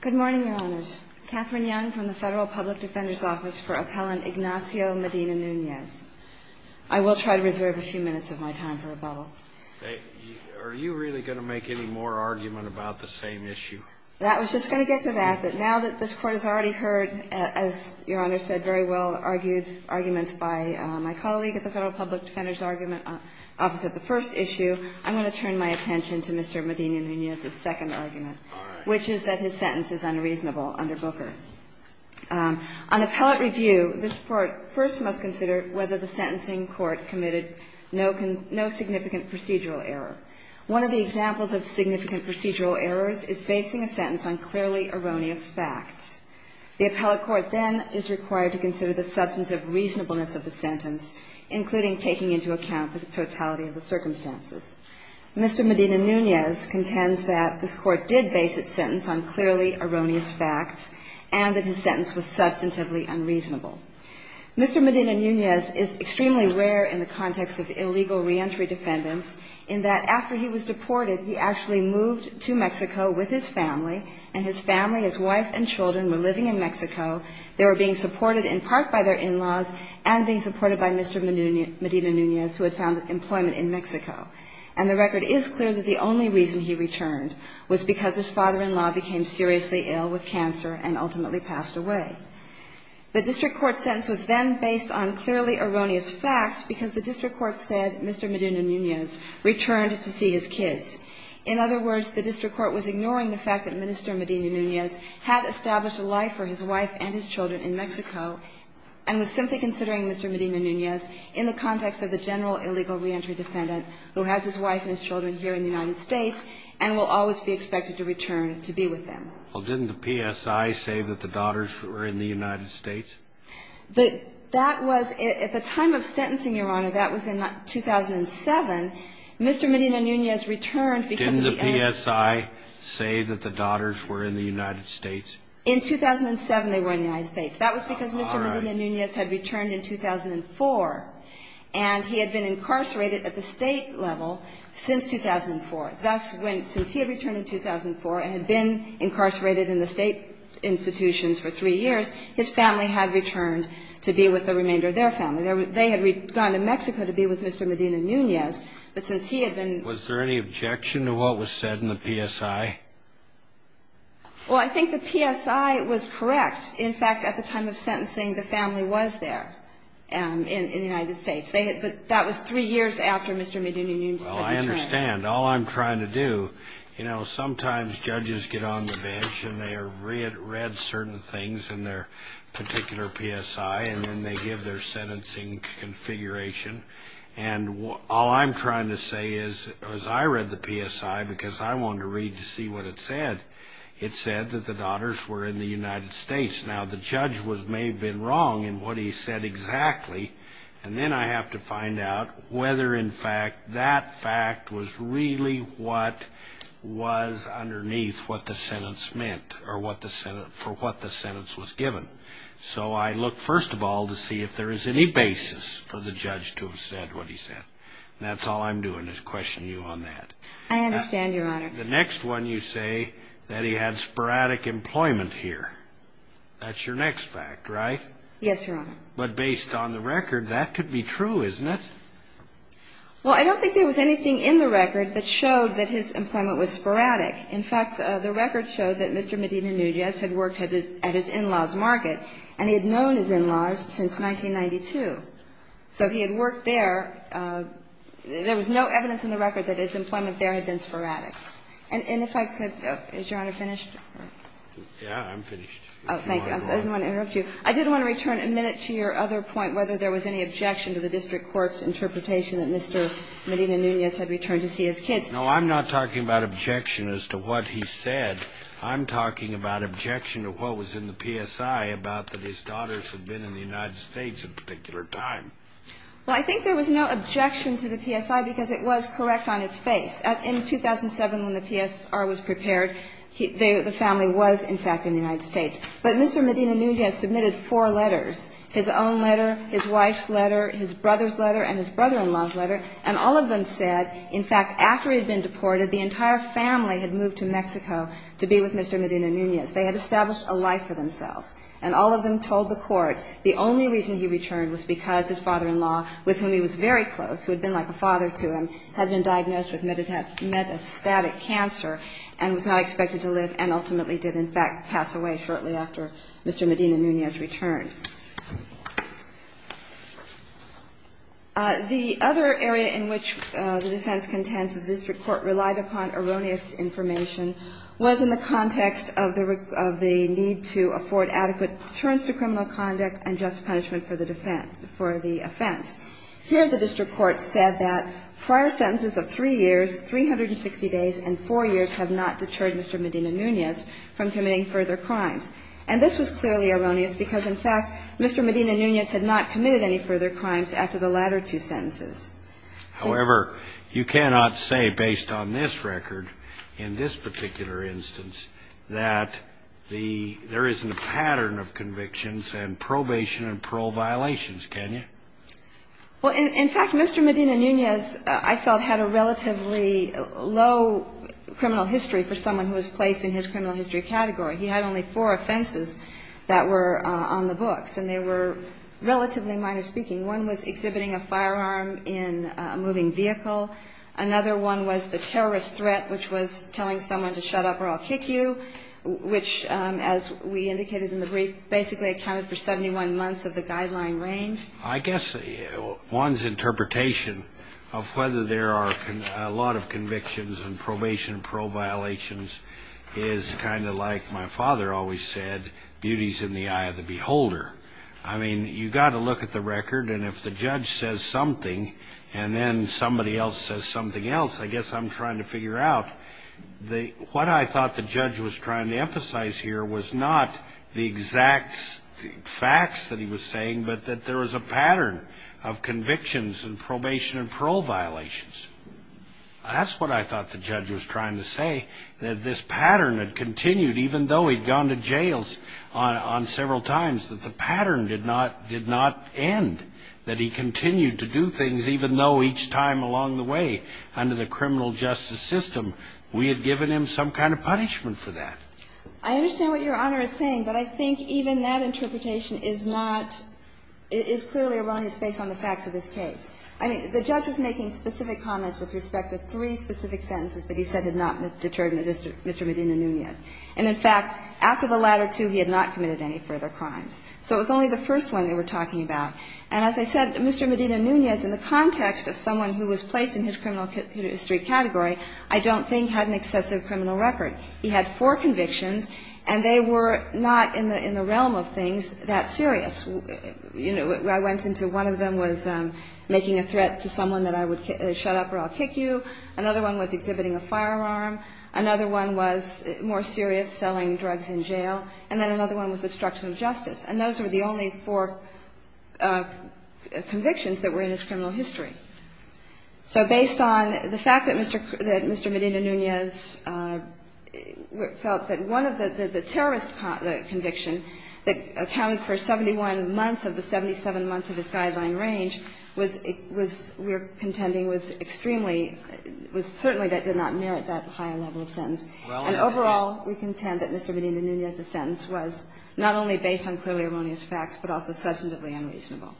Good morning, Your Honors. Catherine Young from the Federal Public Defender's Office for Appellant Ignacio Medina-Nunez. I will try to reserve a few minutes of my time for rebuttal. Are you really going to make any more argument about the same issue? That was just going to get to that, that now that this Court has already heard, as Your Honor said very well, argued arguments by my colleague at the Federal Public Defender's Argument Office at the first issue, I'm going to turn my attention to Mr. Medina-Nunez's second argument, which is that his sentence is unreasonable under Booker. On appellate review, this Court first must consider whether the sentencing court committed no significant procedural error. One of the examples of significant procedural errors is basing a sentence on clearly erroneous facts. The appellate court then is required to consider the substantive reasonableness of the sentence, including taking into account the totality of the circumstances. Mr. Medina-Nunez contends that this Court did base its sentence on clearly erroneous facts and that his sentence was substantively unreasonable. Mr. Medina-Nunez is extremely rare in the context of illegal reentry defendants in that after he was deported, he actually moved to Mexico with his family, and his family, his wife and children, were living in Mexico. They were being supported in part by their in-laws and being supported by Mr. Medina-Nunez, who had found employment in Mexico. And the record is clear that the only reason he returned was because his father-in-law became seriously ill with cancer and ultimately passed away. The district court sentence was then based on clearly erroneous facts because the district court said Mr. Medina-Nunez returned to see his kids. In other words, the district court was ignoring the fact that Minister Medina-Nunez had established a life for his wife and his children in Mexico and was simply considering Mr. Medina-Nunez in the context of the general illegal reentry defendant who has his wife and his children here in the United States and will always be expected to return to be with them. Well, didn't the PSI say that the daughters were in the United States? That was at the time of sentencing, Your Honor. That was in 2007. Mr. Medina-Nunez returned because of the age. Didn't the PSI say that the daughters were in the United States? In 2007, they were in the United States. That was because Mr. Medina-Nunez had returned in 2004, and he had been incarcerated at the State level since 2004. Thus, when he had returned in 2004 and had been incarcerated in the State institutions for three years, his family had returned to be with the remainder of their family. They had gone to Mexico to be with Mr. Medina-Nunez, but since he had been ---- Was there any objection to what was said in the PSI? Well, I think the PSI was correct. In fact, at the time of sentencing, the family was there in the United States. But that was three years after Mr. Medina-Nunez had returned. Well, I understand. All I'm trying to do, you know, sometimes judges get on the bench, and they read certain things in their particular PSI, and then they give their sentencing configuration. And all I'm trying to say is, as I read the PSI, because I wanted to read to see what it said, it said that the daughters were in the United States. Now, the judge may have been wrong in what he said exactly, and then I have to find out whether, in fact, that fact was really what was underneath what the sentence meant or for what the sentence was given. So I look, first of all, to see if there is any basis for the judge to have said what he said. That's all I'm doing is questioning you on that. I understand, Your Honor. The next one you say that he had sporadic employment here. That's your next fact, right? Yes, Your Honor. But based on the record, that could be true, isn't it? Well, I don't think there was anything in the record that showed that his employment was sporadic. In fact, the record showed that Mr. Medina-Nunez had worked at his in-laws' market, and he had known his in-laws since 1992. So he had worked there. There was no evidence in the record that his employment there had been sporadic. And if I could, is Your Honor finished? Yeah, I'm finished. Oh, thank you. I didn't want to interrupt you. I did want to return a minute to your other point, whether there was any objection to the district court's interpretation that Mr. Medina-Nunez had returned to see his kids. No, I'm not talking about objection as to what he said. I'm talking about objection to what was in the PSI about that his daughters had been in the United States at a particular time. Well, I think there was no objection to the PSI because it was correct on its face. In 2007, when the PSI was prepared, the family was, in fact, in the United States. But Mr. Medina-Nunez submitted four letters, his own letter, his wife's letter, his brother's letter, and his brother-in-law's letter, and all of them said, in fact, after he had been deported, the entire family had moved to Mexico to be with Mr. Medina-Nunez. They had established a life for themselves. And all of them told the court the only reason he returned was because his father-in-law, with whom he was very close, who had been like a father to him, had been diagnosed with metastatic cancer and was not expected to live and ultimately did, in fact, pass away shortly after Mr. Medina-Nunez returned. The other area in which the defense contends the district court relied upon erroneous information was in the context of the need to afford adequate deterrence to criminal conduct and just punishment for the offense. Here, the district court said that prior sentences of three years, 360 days, and four years have not deterred Mr. Medina-Nunez from committing further crimes. And this was clearly erroneous because, in fact, Mr. Medina-Nunez had not committed any further crimes after the latter two sentences. However, you cannot say, based on this record, in this particular instance, that there isn't a pattern of convictions and probation and parole violations, can you? Well, in fact, Mr. Medina-Nunez, I felt, had a relatively low criminal history for someone who was placed in his criminal history category. He had only four offenses that were on the books, and they were relatively minor speaking. One was exhibiting a firearm in a moving vehicle. Another one was the terrorist threat, which was telling someone to shut up or I'll kick you, which, as we indicated in the brief, basically accounted for 71 months of the guideline range. I guess one's interpretation of whether there are a lot of convictions and probation and parole violations is kind of like my father always said, beauty's in the eye of the beholder. I mean, you've got to look at the record, and if the judge says something, and then somebody else says something else, I guess I'm trying to figure out what I thought the judge was trying to emphasize here was not the exact facts that he was looking for, but the pattern of convictions and probation and parole violations. That's what I thought the judge was trying to say, that this pattern had continued even though he'd gone to jails on several times, that the pattern did not end, that he continued to do things even though each time along the way under the criminal justice system, we had given him some kind of punishment for that. I understand what Your Honor is saying, but I think even that interpretation is not – is clearly wrong, it's based on the facts of this case. I mean, the judge was making specific comments with respect to three specific sentences that he said had not deterred Mr. Medina-Nunez. And in fact, after the latter two, he had not committed any further crimes. So it was only the first one they were talking about. And as I said, Mr. Medina-Nunez, in the context of someone who was placed in his criminal history category, I don't think had an excessive criminal record. He had four convictions, and they were not in the realm of things that serious. You know, I went into one of them was making a threat to someone that I would shut up or I'll kick you. Another one was exhibiting a firearm. Another one was more serious, selling drugs in jail. And then another one was obstruction of justice. And those were the only four convictions that were in his criminal history. So based on the fact that Mr. Medina-Nunez felt that one of the terrorist convictions that accounted for 71 months of the 77 months of his guideline range was, we're contending, was extremely, was certainly that did not merit that higher level of sentence. And overall, we contend that Mr. Medina-Nunez's sentence was not only based on clearly erroneous facts, but also substantively unreasonable.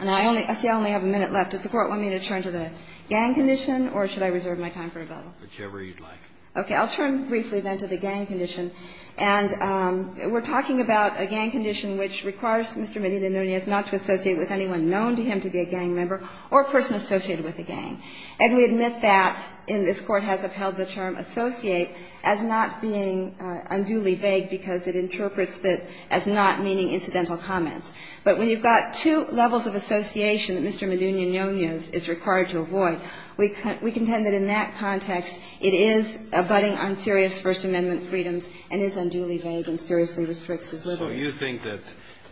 And I only see I only have a minute left. Does the Court want me to turn to the gang condition, or should I reserve my time for a vote? Kennedy, whichever you'd like. Okay. I'll turn briefly then to the gang condition. And we're talking about a gang condition which requires Mr. Medina-Nunez not to associate with anyone known to him to be a gang member or a person associated with a gang. And we admit that, and this Court has upheld the term associate as not being unduly vague because it interprets that as not meaning incidental comments. But when you've got two levels of association that Mr. Medina-Nunez is required to avoid, we contend that in that context it is abutting on serious First Amendment freedoms and is unduly vague and seriously restricts his liberty. So you think that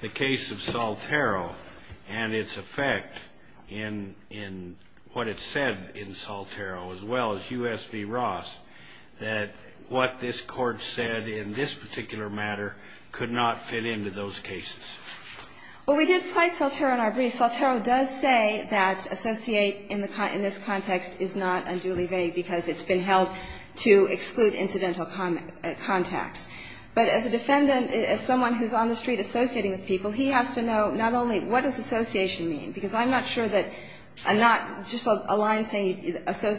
the case of Saltero and its effect in what it said in Saltero as well as U.S. v. Ross, that what this Court said in this particular matter could not fit into those cases? Well, we did cite Saltero in our brief. Saltero does say that associate in this context is not unduly vague because it's been held to exclude incidental contacts. But as a defendant, as someone who's on the street associating with people, he has to know not only what does association mean, because I'm not sure that a not just a line saying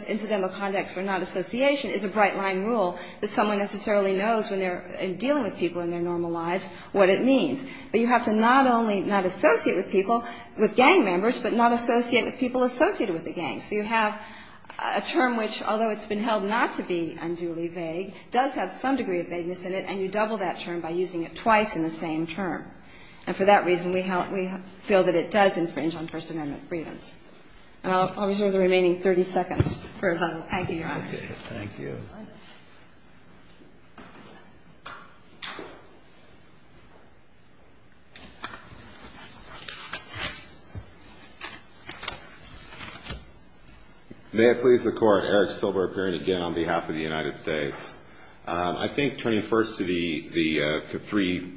incidental contacts or not association is a bright-line rule that someone necessarily knows when they're dealing with people in their normal lives what it means. But you have to not only not associate with people, with gang members, but not associate with people associated with the gang. So you have a term which, although it's been held not to be unduly vague, does have some degree of vagueness in it, and you double that term by using it twice in the same term. And for that reason, we feel that it does infringe on First Amendment freedoms. Thank you. May it please the Court. Eric Silber appearing again on behalf of the United States. I think turning first to the three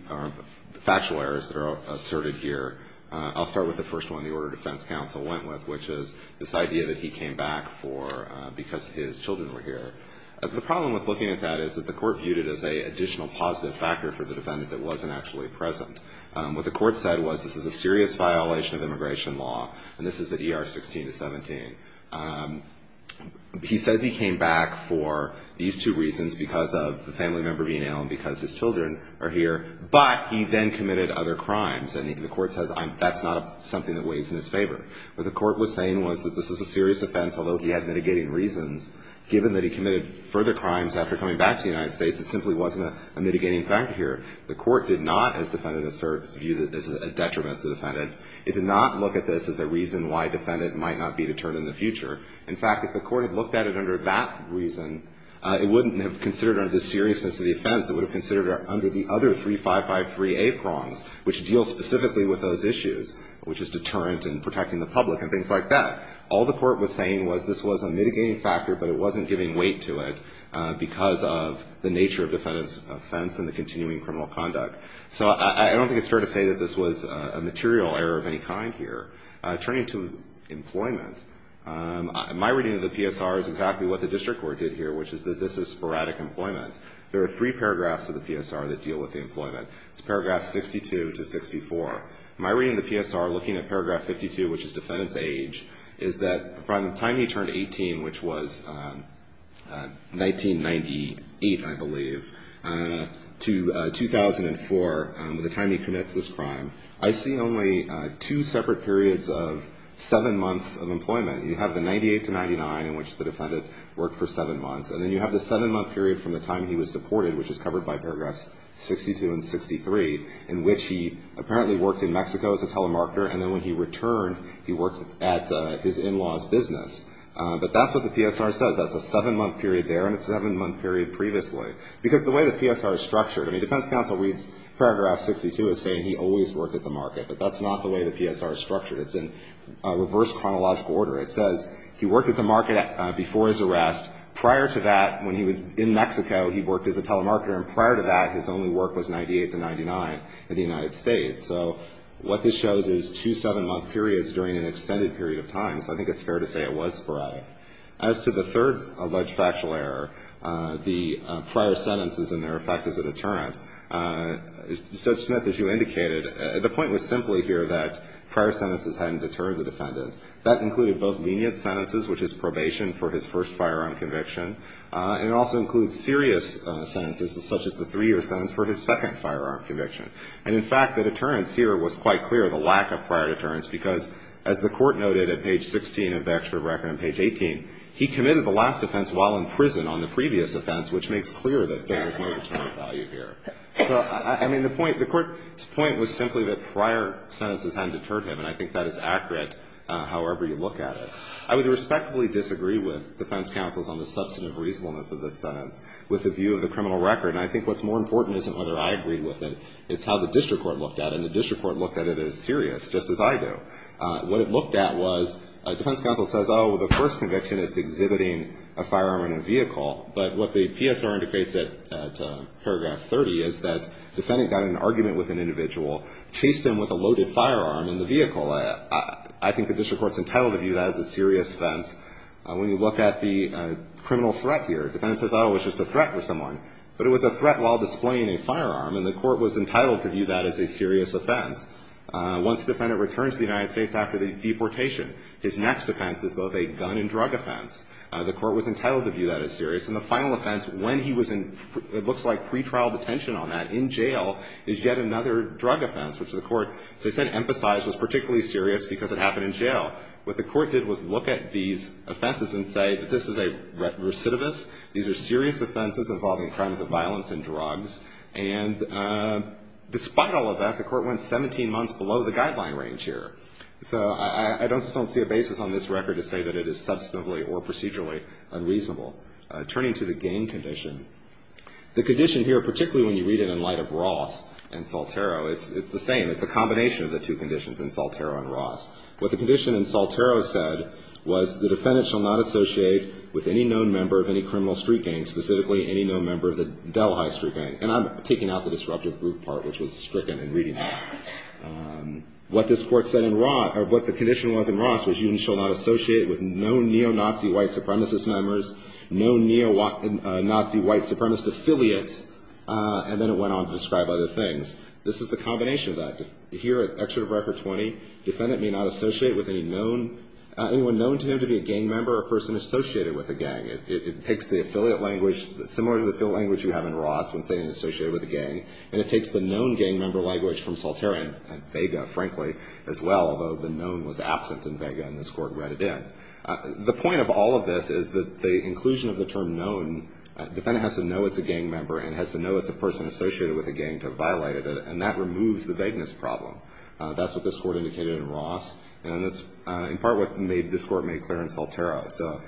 factual errors that are asserted here, I'll start with the first one the Order of Defense counsel went with, which is this idea that he came back for because his children were here. The problem with looking at that is that the court viewed it as an additional positive factor for the defendant that wasn't actually present. What the court said was this is a serious violation of immigration law, and this is at ER 16 to 17. He says he came back for these two reasons, because of the family member being ill and because his children are here, but he then committed other crimes. And the court says that's not something that weighs in his favor. What the court was saying was that this is a serious offense, although he had mitigating reasons. Given that he committed further crimes after coming back to the United States, it simply wasn't a mitigating factor here. The court did not, as defendants assert, view that this is a detriment to the defendant. It did not look at this as a reason why a defendant might not be deterred in the future. In fact, if the court had looked at it under that reason, it wouldn't have considered under the seriousness of the offense. It would have considered it under the other 3553A prongs, which deal specifically with those issues, which is deterrent and protecting the public and things like that. All the court was saying was this was a mitigating factor, but it wasn't giving weight to it because of the nature of the defendant's offense and the continuing criminal conduct. So I don't think it's fair to say that this was a material error of any kind here. Turning to employment, my reading of the PSR is exactly what the district court did here, which is that this is sporadic employment. There are three paragraphs of the PSR that deal with the employment. It's paragraphs 62 to 64. My reading of the PSR, looking at paragraph 52, which is defendant's age, is that from the time he turned 18, which was 1998, I believe, to 2004, the time he commits this crime, I see only two separate periods of seven months of employment. You have the 98 to 99 in which the defendant worked for seven months, and then you have the seven-month period from the time he was deported, which is covered by the PSR, which is paragraph 63, in which he apparently worked in Mexico as a telemarketer, and then when he returned, he worked at his in-laws' business. But that's what the PSR says. That's a seven-month period there and a seven-month period previously. Because the way the PSR is structured, I mean, defense counsel reads paragraph 62 as saying he always worked at the market, but that's not the way the PSR is structured. It's in reverse chronological order. It says he worked at the market before his arrest. Prior to that, when he was in Mexico, he worked as a telemarketer, and prior to that, his only work was 98 to 99 in the United States. So what this shows is two seven-month periods during an extended period of time. So I think it's fair to say it was sporadic. As to the third alleged factual error, the prior sentences and their effect as a deterrent, Judge Smith, as you indicated, the point was simply here that prior sentences hadn't deterred the defendant. That included both lenient sentences, which is probation for his first firearm conviction, and it also includes serious sentences, such as the three-year sentence for his second firearm conviction. And, in fact, the deterrence here was quite clear, the lack of prior deterrence, because, as the Court noted at page 16 of the extra record on page 18, he committed the last offense while in prison on the previous offense, which makes clear that there is no deterrent of value here. So, I mean, the point, the Court's point was simply that prior sentences hadn't deterred him, and I think that is accurate, however you look at it. I would respectfully disagree with defense counsels on the substantive reasonableness of this sentence with the view of the criminal record. And I think what's more important isn't whether I agree with it, it's how the district court looked at it, and the district court looked at it as serious, just as I do. What it looked at was, a defense counsel says, oh, well, the first conviction, it's exhibiting a firearm in a vehicle. But what the PSR indicates at paragraph 30 is that defendant got in an argument with an individual, chased him with a loaded firearm in the vehicle. I think the district court's entitled to view that as a serious offense. When you look at the criminal threat here, defendant says, oh, it was just a threat for someone, but it was a threat while displaying a firearm, and the court was entitled to view that as a serious offense. Once the defendant returns to the United States after the deportation, his next offense is both a gun and drug offense. The court was entitled to view that as serious. And the final offense, when he was in, it looks like pretrial detention on that, in jail, is yet another drug offense, which the court, as I said, emphasized was particularly serious because it happened in jail. What the court did was look at these offenses and say that this is a recidivist. These are serious offenses involving crimes of violence and drugs. And despite all of that, the court went 17 months below the guideline range here. So I just don't see a basis on this record to say that it is substantively or procedurally unreasonable. Turning to the gain condition, the condition here, particularly when you read it in light of Ross and Saltero, it's the same. It's a combination of the two conditions in Saltero and Ross. What the condition in Saltero said was the defendant shall not associate with any known member of any criminal street gang, specifically any known member of the Del High street gang. And I'm taking out the disruptive group part, which was stricken in reading that. What this court said in Ross, or what the condition was in Ross was you shall not associate with no neo-Nazi white supremacist members, no neo-Nazi white supremacist affiliates, and then it went on to describe other things. This is the combination of that. Here at Excerpt of Record 20, defendant may not associate with anyone known to him to be a gang member or a person associated with a gang. It takes the affiliate language, similar to the affiliate language you have in Ross when saying associated with a gang, and it takes the known gang member language from Saltero and Vega, frankly, as well, although the known was absent in Vega and this court read it in. The point of all of this is that the inclusion of the term known, the defendant has to know it's a gang member and has to know it's a person associated with a gang to have violated it, and that removes the vagueness problem. That's what this court indicated in Ross, and that's in part what this court made clear in Saltero. So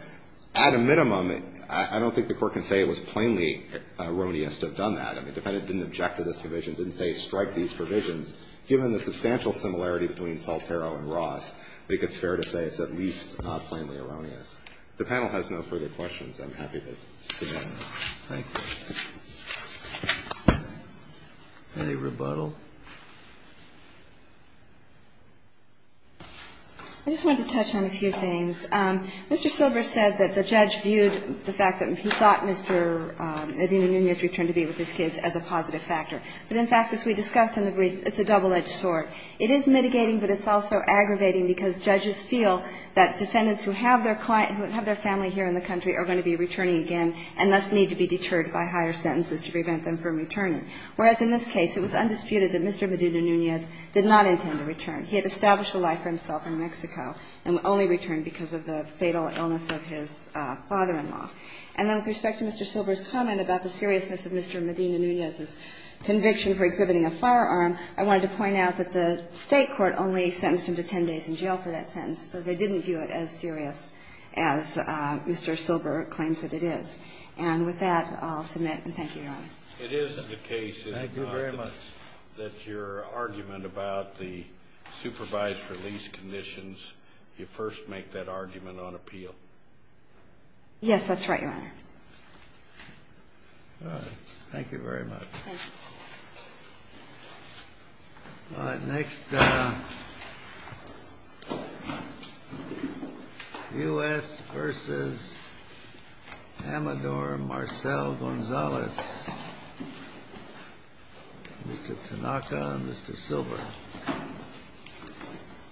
at a minimum, I don't think the court can say it was plainly erroneous to have done that. I mean, the defendant didn't object to this provision, didn't say strike these provisions. Given the substantial similarity between Saltero and Ross, I think it's fair to say it's at least not plainly erroneous. The panel has no further questions. I'm happy to sit down. Thank you. Any rebuttal? I just wanted to touch on a few things. Mr. Silber said that the judge viewed the fact that he thought Mr. Nunez returned to be with his kids as a positive factor. But, in fact, as we discussed in the brief, it's a double-edged sword. It is mitigating, but it's also aggravating because judges feel that defendants who have their family here in the country are going to be returning again, and thus need to be deterred by higher sentences to prevent them from returning. Whereas in this case, it was undisputed that Mr. Medina Nunez did not intend to return. He had established a life for himself in Mexico and only returned because of the fatal illness of his father-in-law. And then with respect to Mr. Silber's comment about the seriousness of Mr. Medina Nunez's conviction for exhibiting a firearm, I wanted to point out that the State court only sentenced him to 10 days in jail for that sentence because they didn't view it as serious as Mr. Silber claims that it is. And with that, I'll submit, and thank you, Your Honor. It is the case, is it not, that your argument about the supervised release conditions, you first make that argument on appeal? Yes, that's right, Your Honor. All right. Thank you very much. Thank you. All right. Next, U.S. v. Amador Marcel Gonzalez, Mr. Tanaka and Mr. Silber.